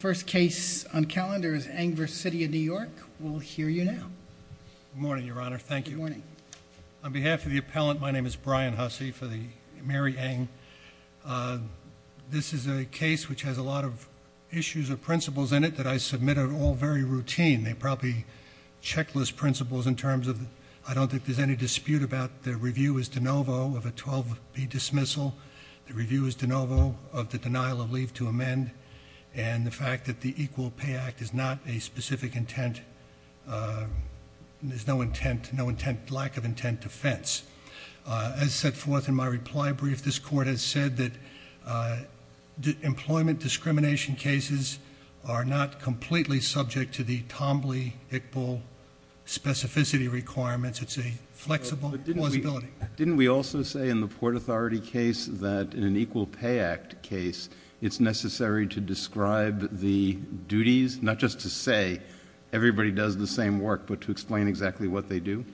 First case on calendar is Eng v. The City of New York. We'll hear you now. Good morning, Your Honor. Thank you. Good morning. On behalf of the appellant, my name is Brian Hussey for the Mary Eng. This is a case which has a lot of issues or principles in it that I submitted all very routine. They're probably checklist principles in terms of I don't think there's any dispute about the review is de novo of a 12B dismissal, the review is de novo of the denial of leave to amend, and the fact that the Equal Pay Act is not a specific intent. There's no intent, no intent, lack of intent defense. As set forth in my reply brief, this court has said that employment discrimination cases are not completely subject to the Tombly-Hickbill specificity requirements. It's a flexible plausibility. Didn't we also say in the Port Authority case that in an Equal Pay Act case, it's necessary to describe the duties, not just to say everybody does the same work, but to explain exactly what they do?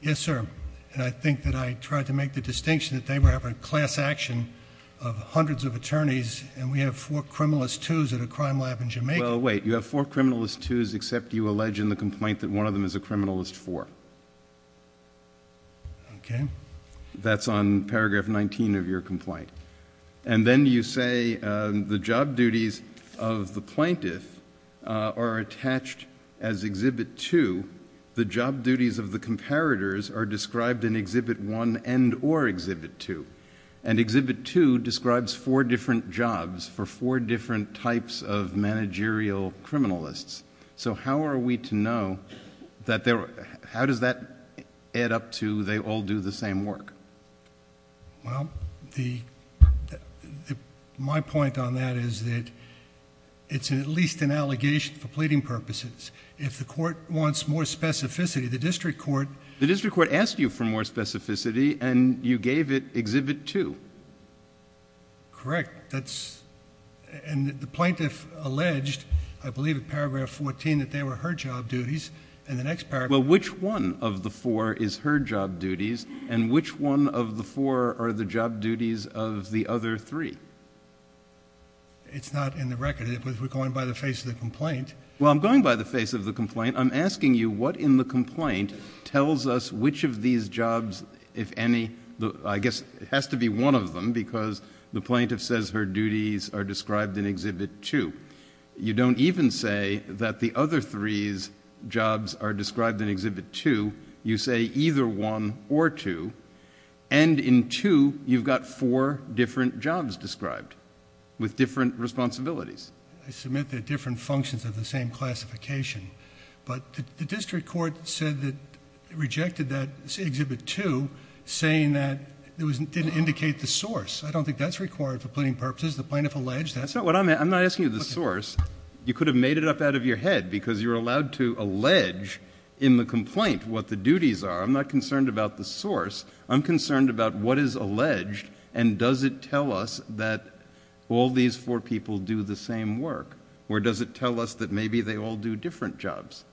Yes, sir, and I think that I tried to make the distinction that they were having class action of hundreds of attorneys, and we have four criminalist twos at a crime lab in Jamaica. Well, wait, you have four criminalist twos except you allege in the complaint that one of them is a criminalist four. Okay. That's on paragraph 19 of your complaint. And then you say the job duties of the plaintiff are attached as Exhibit 2. The job duties of the comparators are described in Exhibit 1 and or Exhibit 2, and Exhibit 2 describes four different jobs for four different types of managerial criminalists. So how are we to know that they're... how does that add up to they all do the same work? Well, my point on that is that it's at least an allegation for pleading purposes. If the court wants more specificity, the district court... Correct. That's... and the plaintiff alleged, I believe, in paragraph 14 that they were her job duties, and the next paragraph... Well, which one of the four is her job duties, and which one of the four are the job duties of the other three? It's not in the record. If we're going by the face of the complaint... I'm asking you what in the complaint tells us which of these jobs, if any... I guess it has to be one of them because the plaintiff says her duties are described in Exhibit 2. You don't even say that the other three's jobs are described in Exhibit 2. You say either one or two, and in two, you've got four different jobs described with different responsibilities. I submit they're different functions of the same classification. But the district court said that it rejected that Exhibit 2, saying that it didn't indicate the source. I don't think that's required for pleading purposes. The plaintiff alleged that... That's not what I meant. I'm not asking you the source. You could have made it up out of your head because you're allowed to allege in the complaint what the duties are. I'm not concerned about the source. I'm concerned about what is alleged, and does it tell us that all these four people do the same work? Or does it tell us that maybe they all do different jobs?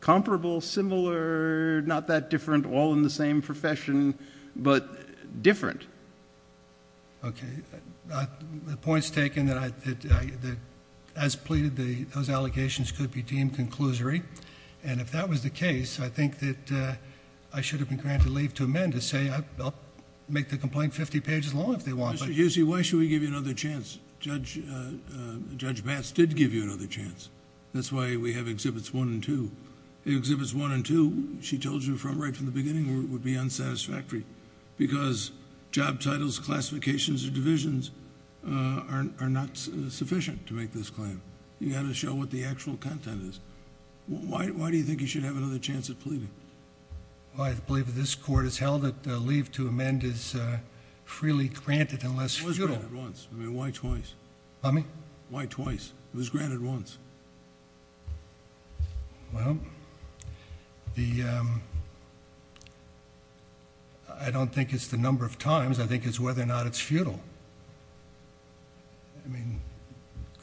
Comparable, similar, not that different, all in the same profession, but different. Okay. The point's taken that as pleaded, those allegations could be deemed conclusory. If that was the case, I think that I should have been granted leave to amend to say, I'll make the complaint 50 pages long if they want. Mr. Giussi, why should we give you another chance? Judge Bass did give you another chance. That's why we have Exhibits 1 and 2. Exhibits 1 and 2, she told you right from the beginning, would be unsatisfactory because job titles, classifications, or divisions are not sufficient to make this claim. You've got to show what the actual content is. Why do you think you should have another chance at pleading? I believe that this Court has held that leave to amend is freely granted unless futile. It was granted once. I mean, why twice? Pardon me? Why twice? It was granted once. Well, I don't think it's the number of times. I think it's whether or not it's futile.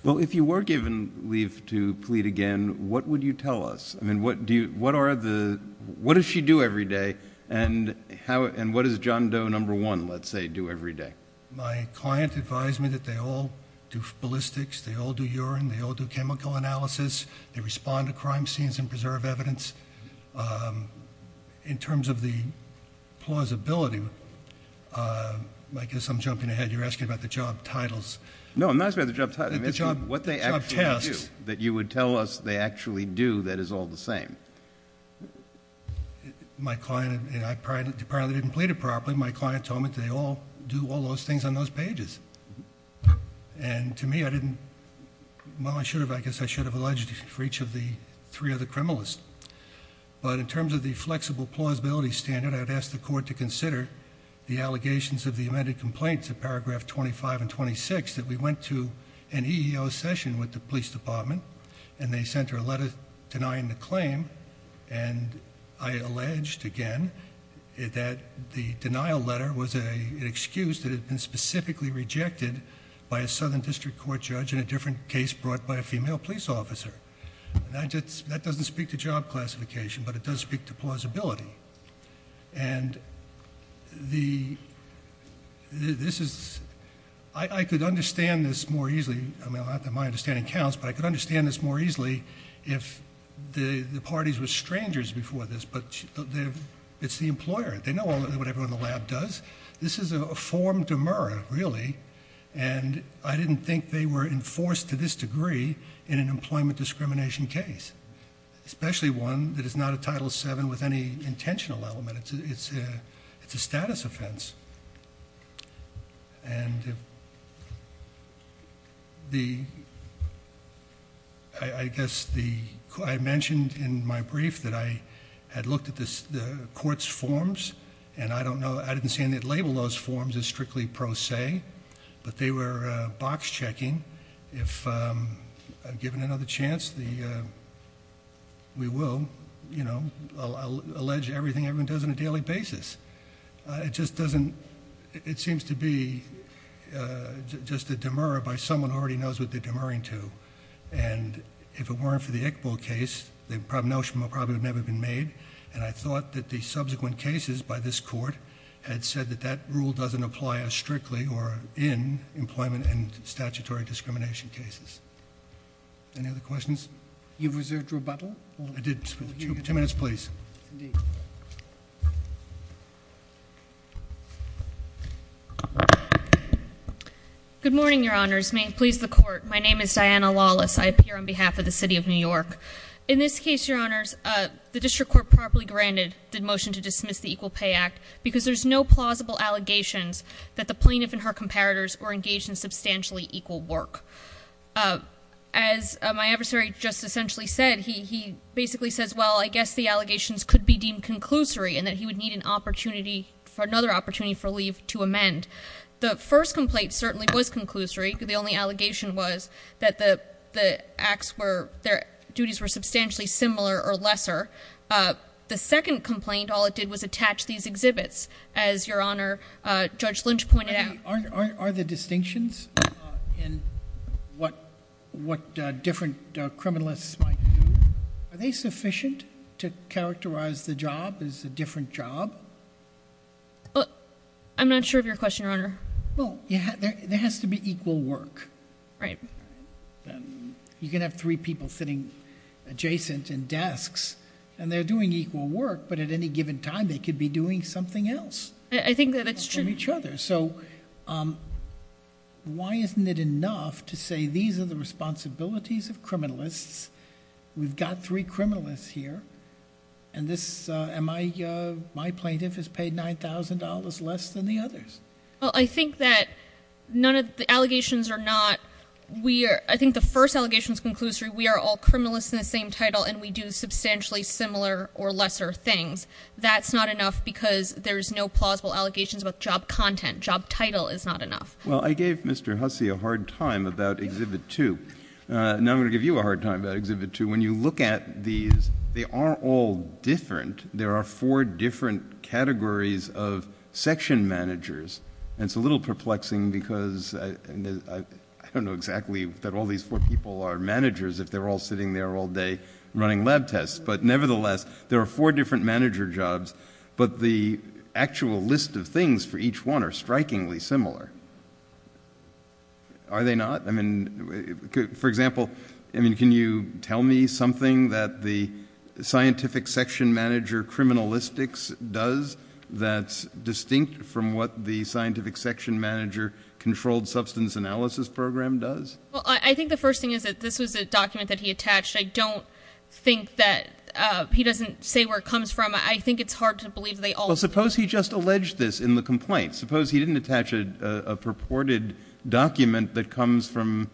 Well, if you were given leave to plead again, what would you tell us? What does she do every day, and what does John Doe No. 1, let's say, do every day? My client advised me that they all do ballistics, they all do urine, they all do chemical analysis, they respond to crime scenes and preserve evidence. In terms of the plausibility, I guess I'm jumping ahead. You're asking about the job titles. No, I'm not asking about the job titles. I'm asking what they actually do that you would tell us they actually do that is all the same. My client and I apparently didn't plead it properly. My client told me that they all do all those things on those pages. And to me, I didn't, well, I guess I should have alleged for each of the three other criminalists. But in terms of the flexible plausibility standard, I'd ask the court to consider the allegations of the amended complaints of paragraph 25 and 26 that we went to an EEO session with the police department, and they sent her a letter denying the claim, and I alleged, again, that the denial letter was an excuse that had been specifically rejected by a southern district court judge in a different case brought by a female police officer. That doesn't speak to job classification, but it does speak to plausibility. And this is... I could understand this more easily. I mean, not that my understanding counts, but I could understand this more easily if the parties were strangers before this. But it's the employer. They know what everyone in the lab does. This is a form de mura, really. And I didn't think they were enforced to this degree in an employment discrimination case, especially one that is not a Title VII with any intentional element. It's a status offense. And the... I guess the... I mentioned in my brief that I had looked at the court's forms, and I don't know... I didn't say anything to label those forms as strictly pro se, but they were box checking. If I'm given another chance, we will, you know, allege everything everyone does on a daily basis. It just doesn't... It seems to be just a de mura by someone who already knows what they're de muring to. And if it weren't for the Iqbal case, the notion would probably have never been made. And I thought that the subsequent cases by this court had said that that rule doesn't apply as strictly or in employment and statutory discrimination cases. Any other questions? You've reserved rebuttal? I did. Two minutes, please. Indeed. Good morning, your honors. May it please the court. My name is Diana Lawless. I appear on behalf of the city of New York. In this case, your honors, the district court properly granted the motion to dismiss the Equal Pay Act, because there's no plausible allegations that the plaintiff and her comparators were engaged in substantially equal work. As my adversary just essentially said, he basically says, well, I guess the allegations could be deemed conclusory, and that he would need an opportunity for another opportunity for leave to amend. The first complaint certainly was conclusory. The only allegation was that the acts were, their duties were substantially similar or lesser. The second complaint, all it did was attach these exhibits. As your honor, Judge Lynch pointed out. Are the distinctions in what different criminalists might do, are they sufficient to characterize the job as a different job? I'm not sure of your question, your honor. Well, there has to be equal work. Right. You can have three people sitting adjacent in desks, and they're doing equal work, but at any given time they could be doing something else. I think that it's true. So why isn't it enough to say these are the responsibilities of criminalists? We've got three criminalists here, and my plaintiff has paid $9,000 less than the others. Well, I think that none of the allegations are not. I think the first allegation is conclusory. We are all criminalists in the same title, and we do substantially similar or lesser things. That's not enough because there's no plausible allegations about job content. Job title is not enough. Well, I gave Mr. Hussey a hard time about Exhibit 2. Now I'm going to give you a hard time about Exhibit 2. When you look at these, they are all different. There are four different categories of section managers, and it's a little perplexing because I don't know exactly that all these four people are managers if they're all sitting there all day running lab tests. But nevertheless, there are four different manager jobs, but the actual list of things for each one are strikingly similar. Are they not? I mean, for example, can you tell me something that the scientific section manager criminalistics does that's distinct from what the scientific section manager controlled substance analysis program does? Well, I think the first thing is that this was a document that he attached. I don't think that he doesn't say where it comes from. I think it's hard to believe they all do. Well, suppose he just alleged this in the complaint. Suppose he didn't attach a purported document that comes from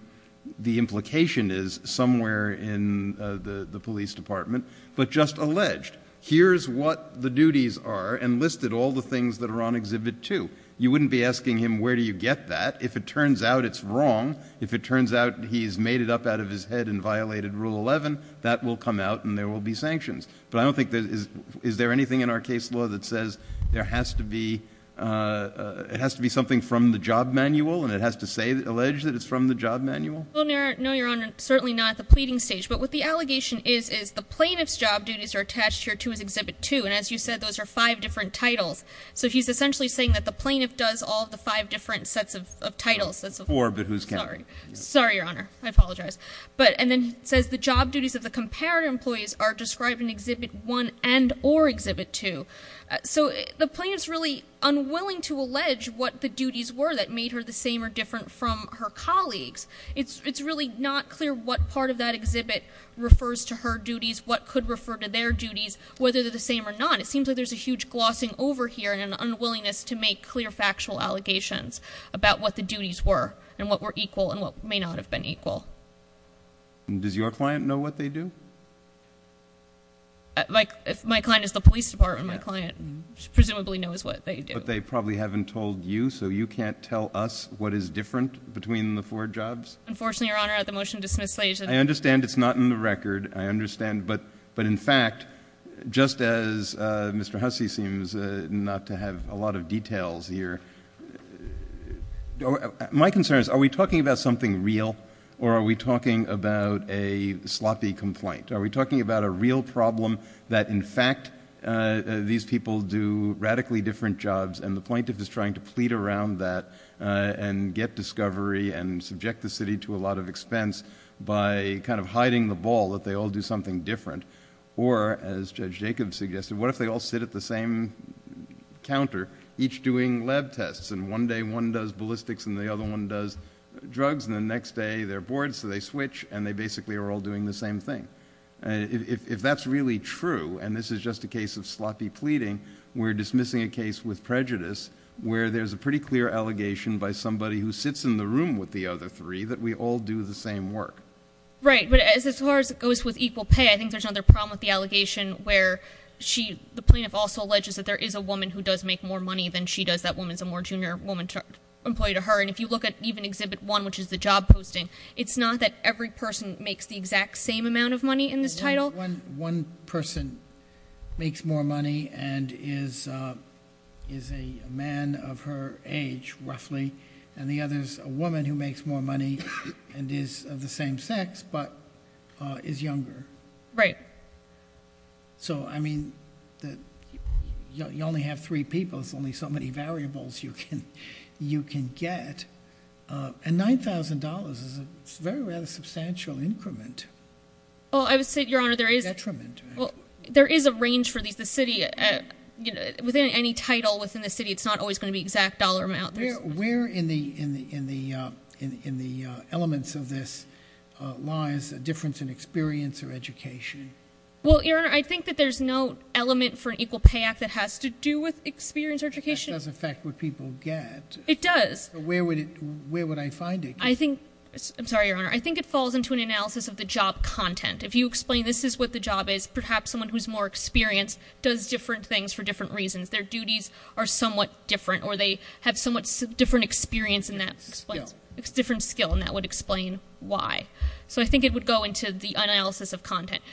the implication is somewhere in the police department, but just alleged here's what the duties are and listed all the things that are on Exhibit 2. You wouldn't be asking him where do you get that. If it turns out it's wrong, if it turns out he's made it up out of his head and violated Rule 11, that will come out and there will be sanctions. But I don't think there is. Is there anything in our case law that says there has to be it has to be something from the job manual and it has to say that alleged that it's from the job manual? No, Your Honor. Certainly not the pleading stage. But what the allegation is, is the plaintiff's job duties are attached here to his Exhibit 2. And as you said, those are five different titles. So he's essentially saying that the plaintiff does all the five different sets of titles. Four, but who's counting? Sorry, Your Honor. I apologize. And then it says the job duties of the comparator employees are described in Exhibit 1 and or Exhibit 2. So the plaintiff's really unwilling to allege what the duties were that made her the same or different from her colleagues. It's really not clear what part of that exhibit refers to her duties, what could refer to their duties, whether they're the same or not. And it seems like there's a huge glossing over here and an unwillingness to make clear factual allegations about what the duties were and what were equal and what may not have been equal. Does your client know what they do? My client is the police department. My client presumably knows what they do. But they probably haven't told you, so you can't tell us what is different between the four jobs? Unfortunately, Your Honor, at the motion dismissal stage. I understand it's not in the record. I understand, but in fact, just as Mr. Hussey seems not to have a lot of details here, my concern is are we talking about something real or are we talking about a sloppy complaint? Are we talking about a real problem that, in fact, these people do radically different jobs and the plaintiff is trying to plead around that and get discovery and subject the city to a lot of expense by kind of hiding the ball that they all do something different? Or, as Judge Jacobs suggested, what if they all sit at the same counter each doing lab tests and one day one does ballistics and the other one does drugs and the next day they're bored so they switch and they basically are all doing the same thing? If that's really true and this is just a case of sloppy pleading, we're dismissing a case with prejudice where there's a pretty clear allegation by somebody who sits in the room with the other three that we all do the same work. Right, but as far as it goes with equal pay, I think there's another problem with the allegation where the plaintiff also alleges that there is a woman who does make more money than she does, that woman's a more junior woman employee to her. And if you look at even Exhibit 1, which is the job posting, it's not that every person makes the exact same amount of money in this title. One person makes more money and is a man of her age, roughly, and the other is a woman who makes more money and is of the same sex but is younger. Right. So, I mean, you only have three people. There's only so many variables you can get. And $9,000 is a very substantial increment. Well, I would say, Your Honor, there is a range for these. The city, within any title within the city, it's not always going to be exact dollar amounts. Where in the elements of this lies a difference in experience or education? Well, Your Honor, I think that there's no element for an equal pay act that has to do with experience or education. That does affect what people get. It does. Where would I find it? I think, I'm sorry, Your Honor, I think it falls into an analysis of the job content. If you explain this is what the job is, perhaps someone who's more experienced does different things for different reasons. Their duties are somewhat different or they have somewhat different experience in that. Skill. Different skill, and that would explain why. So I think it would go into the analysis of content.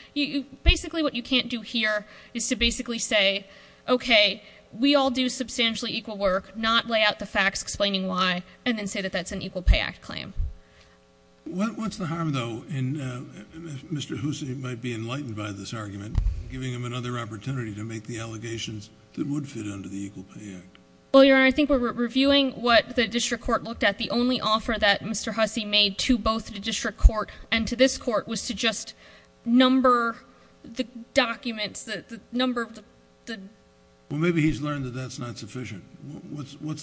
Basically, what you can't do here is to basically say, okay, we all do substantially equal work, but not lay out the facts explaining why, and then say that that's an equal pay act claim. What's the harm, though, in Mr. Hussey might be enlightened by this argument, giving him another opportunity to make the allegations that would fit under the equal pay act? Well, Your Honor, I think we're reviewing what the district court looked at. The only offer that Mr. Hussey made to both the district court and to this court was to just number the documents, the number of the... What's the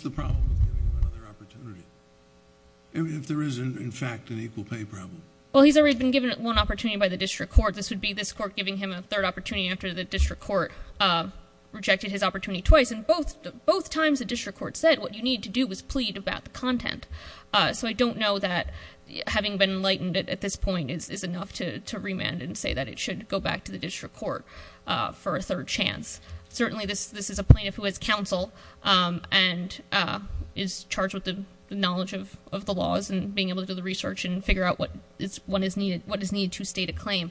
problem with giving him another opportunity if there is, in fact, an equal pay problem? Well, he's already been given one opportunity by the district court. This would be this court giving him a third opportunity after the district court rejected his opportunity twice, and both times the district court said what you need to do is plead about the content. So I don't know that having been enlightened at this point is enough to remand and say that it should go back to the district court for a third chance. Certainly, this is a plaintiff who has counsel and is charged with the knowledge of the laws and being able to do the research and figure out what is needed to state a claim.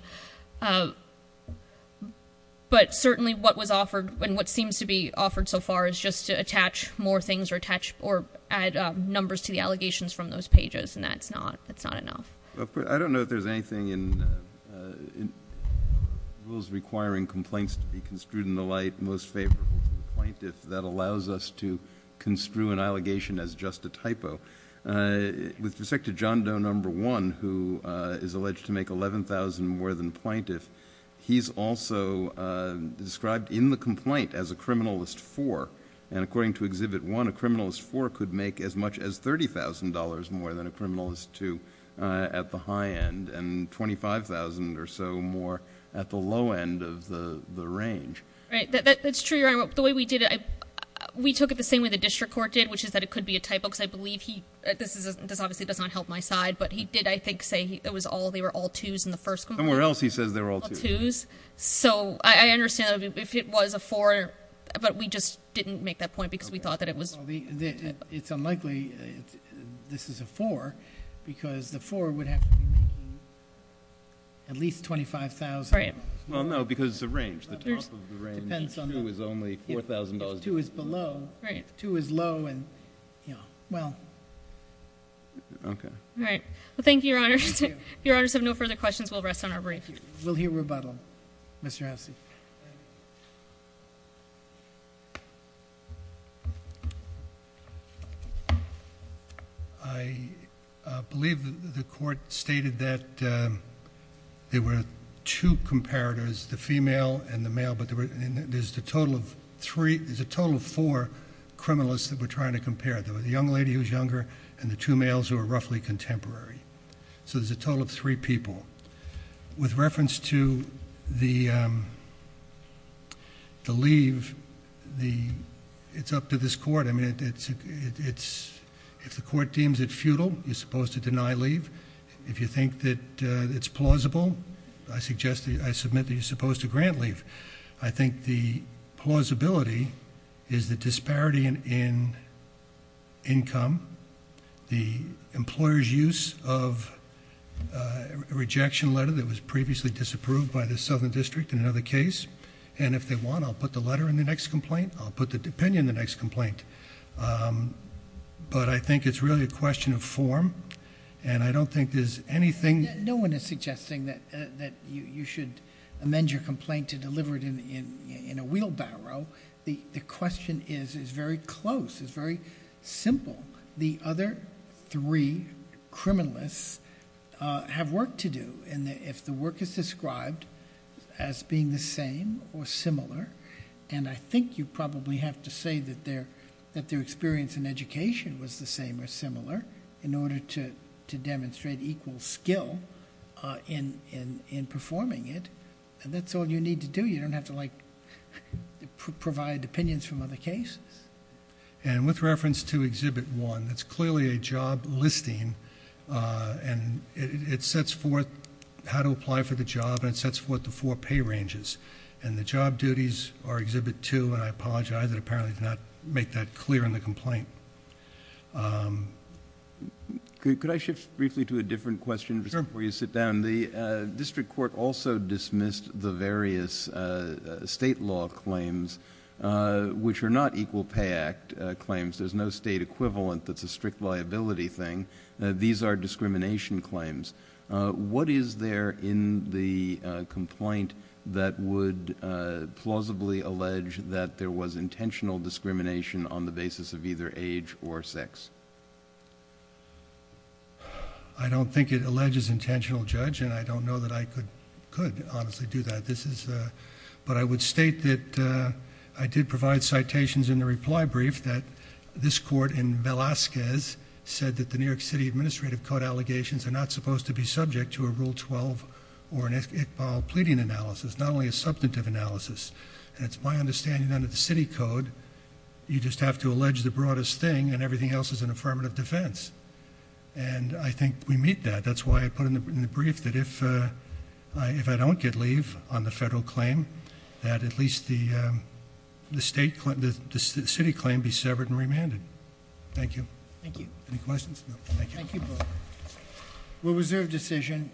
But certainly, what was offered and what seems to be offered so far is just to attach more things or add numbers to the allegations from those pages, and that's not enough. I don't know if there's anything in rules requiring complaints to be construed in the light most favorable to the plaintiff that allows us to construe an allegation as just a typo. With respect to John Doe No. 1, who is alleged to make $11,000 more than the plaintiff, he's also described in the complaint as a criminalist four, and according to Exhibit 1, a criminalist four could make as much as $30,000 more than a criminalist two at the high end and $25,000 or so more at the low end of the range. Right. That's true, Your Honor. The way we did it, we took it the same way the district court did, which is that it could be a typo, because I believe he—this obviously does not help my side, but he did, I think, say they were all twos in the first complaint. Somewhere else he says they were all twos. So I understand if it was a four, but we just didn't make that point because we thought that it was— It's unlikely this is a four because the four would have to be making at least $25,000. Right. Well, no, because the range, the top of the range, two is only $4,000. Two is below. Right. Two is low and, you know, well. Okay. Right. Well, thank you, Your Honor. Thank you. If Your Honors have no further questions, we'll rest on our brief. Thank you. We'll hear rebuttal. Mr. Hersey. I believe the court stated that there were two comparators, the female and the male, but there's a total of three—there's a total of four criminalists that we're trying to compare. There was a young lady who was younger and the two males who were roughly contemporary. So there's a total of three people. With reference to the leave, it's up to this court. I mean, if the court deems it futile, you're supposed to deny leave. If you think that it's plausible, I suggest that—I submit that you're supposed to grant leave. I think the plausibility is the disparity in income, the employer's use of a rejection letter that was previously disapproved by the Southern District in another case, and if they want, I'll put the letter in the next complaint. I'll put the opinion in the next complaint. But I think it's really a question of form, and I don't think there's anything— No one is suggesting that you should amend your complaint to deliver it in a wheelbarrow. The question is very close. It's very simple. The other three criminalists have work to do. If the work is described as being the same or similar, and I think you probably have to say that their experience in education was the same or similar in order to demonstrate equal skill in performing it, and that's all you need to do. You don't have to, like, provide opinions from other cases. And with reference to Exhibit 1, it's clearly a job listing, and it sets forth how to apply for the job, and it sets forth the four pay ranges, and the job duties are Exhibit 2, and I apologize. I did not make that clear in the complaint. Could I shift briefly to a different question before you sit down? Sure. The district court also dismissed the various state law claims, which are not Equal Pay Act claims. There's no state equivalent that's a strict liability thing. These are discrimination claims. What is there in the complaint that would plausibly allege that there was intentional discrimination on the basis of either age or sex? I don't think it alleges intentional, Judge, and I don't know that I could honestly do that. But I would state that I did provide citations in the reply brief that this court in Velazquez said that the New York City Administrative Code allegations are not supposed to be subject to a Rule 12 or an Iqbal pleading analysis, not only a substantive analysis. And it's my understanding under the city code, you just have to allege the broadest thing, and everything else is an affirmative defense. And I think we meet that. That's why I put in the brief that if I don't get leave on the federal claim, that at least the city claim be severed and remanded. Thank you. Thank you. Any questions? Thank you both. We'll reserve decision.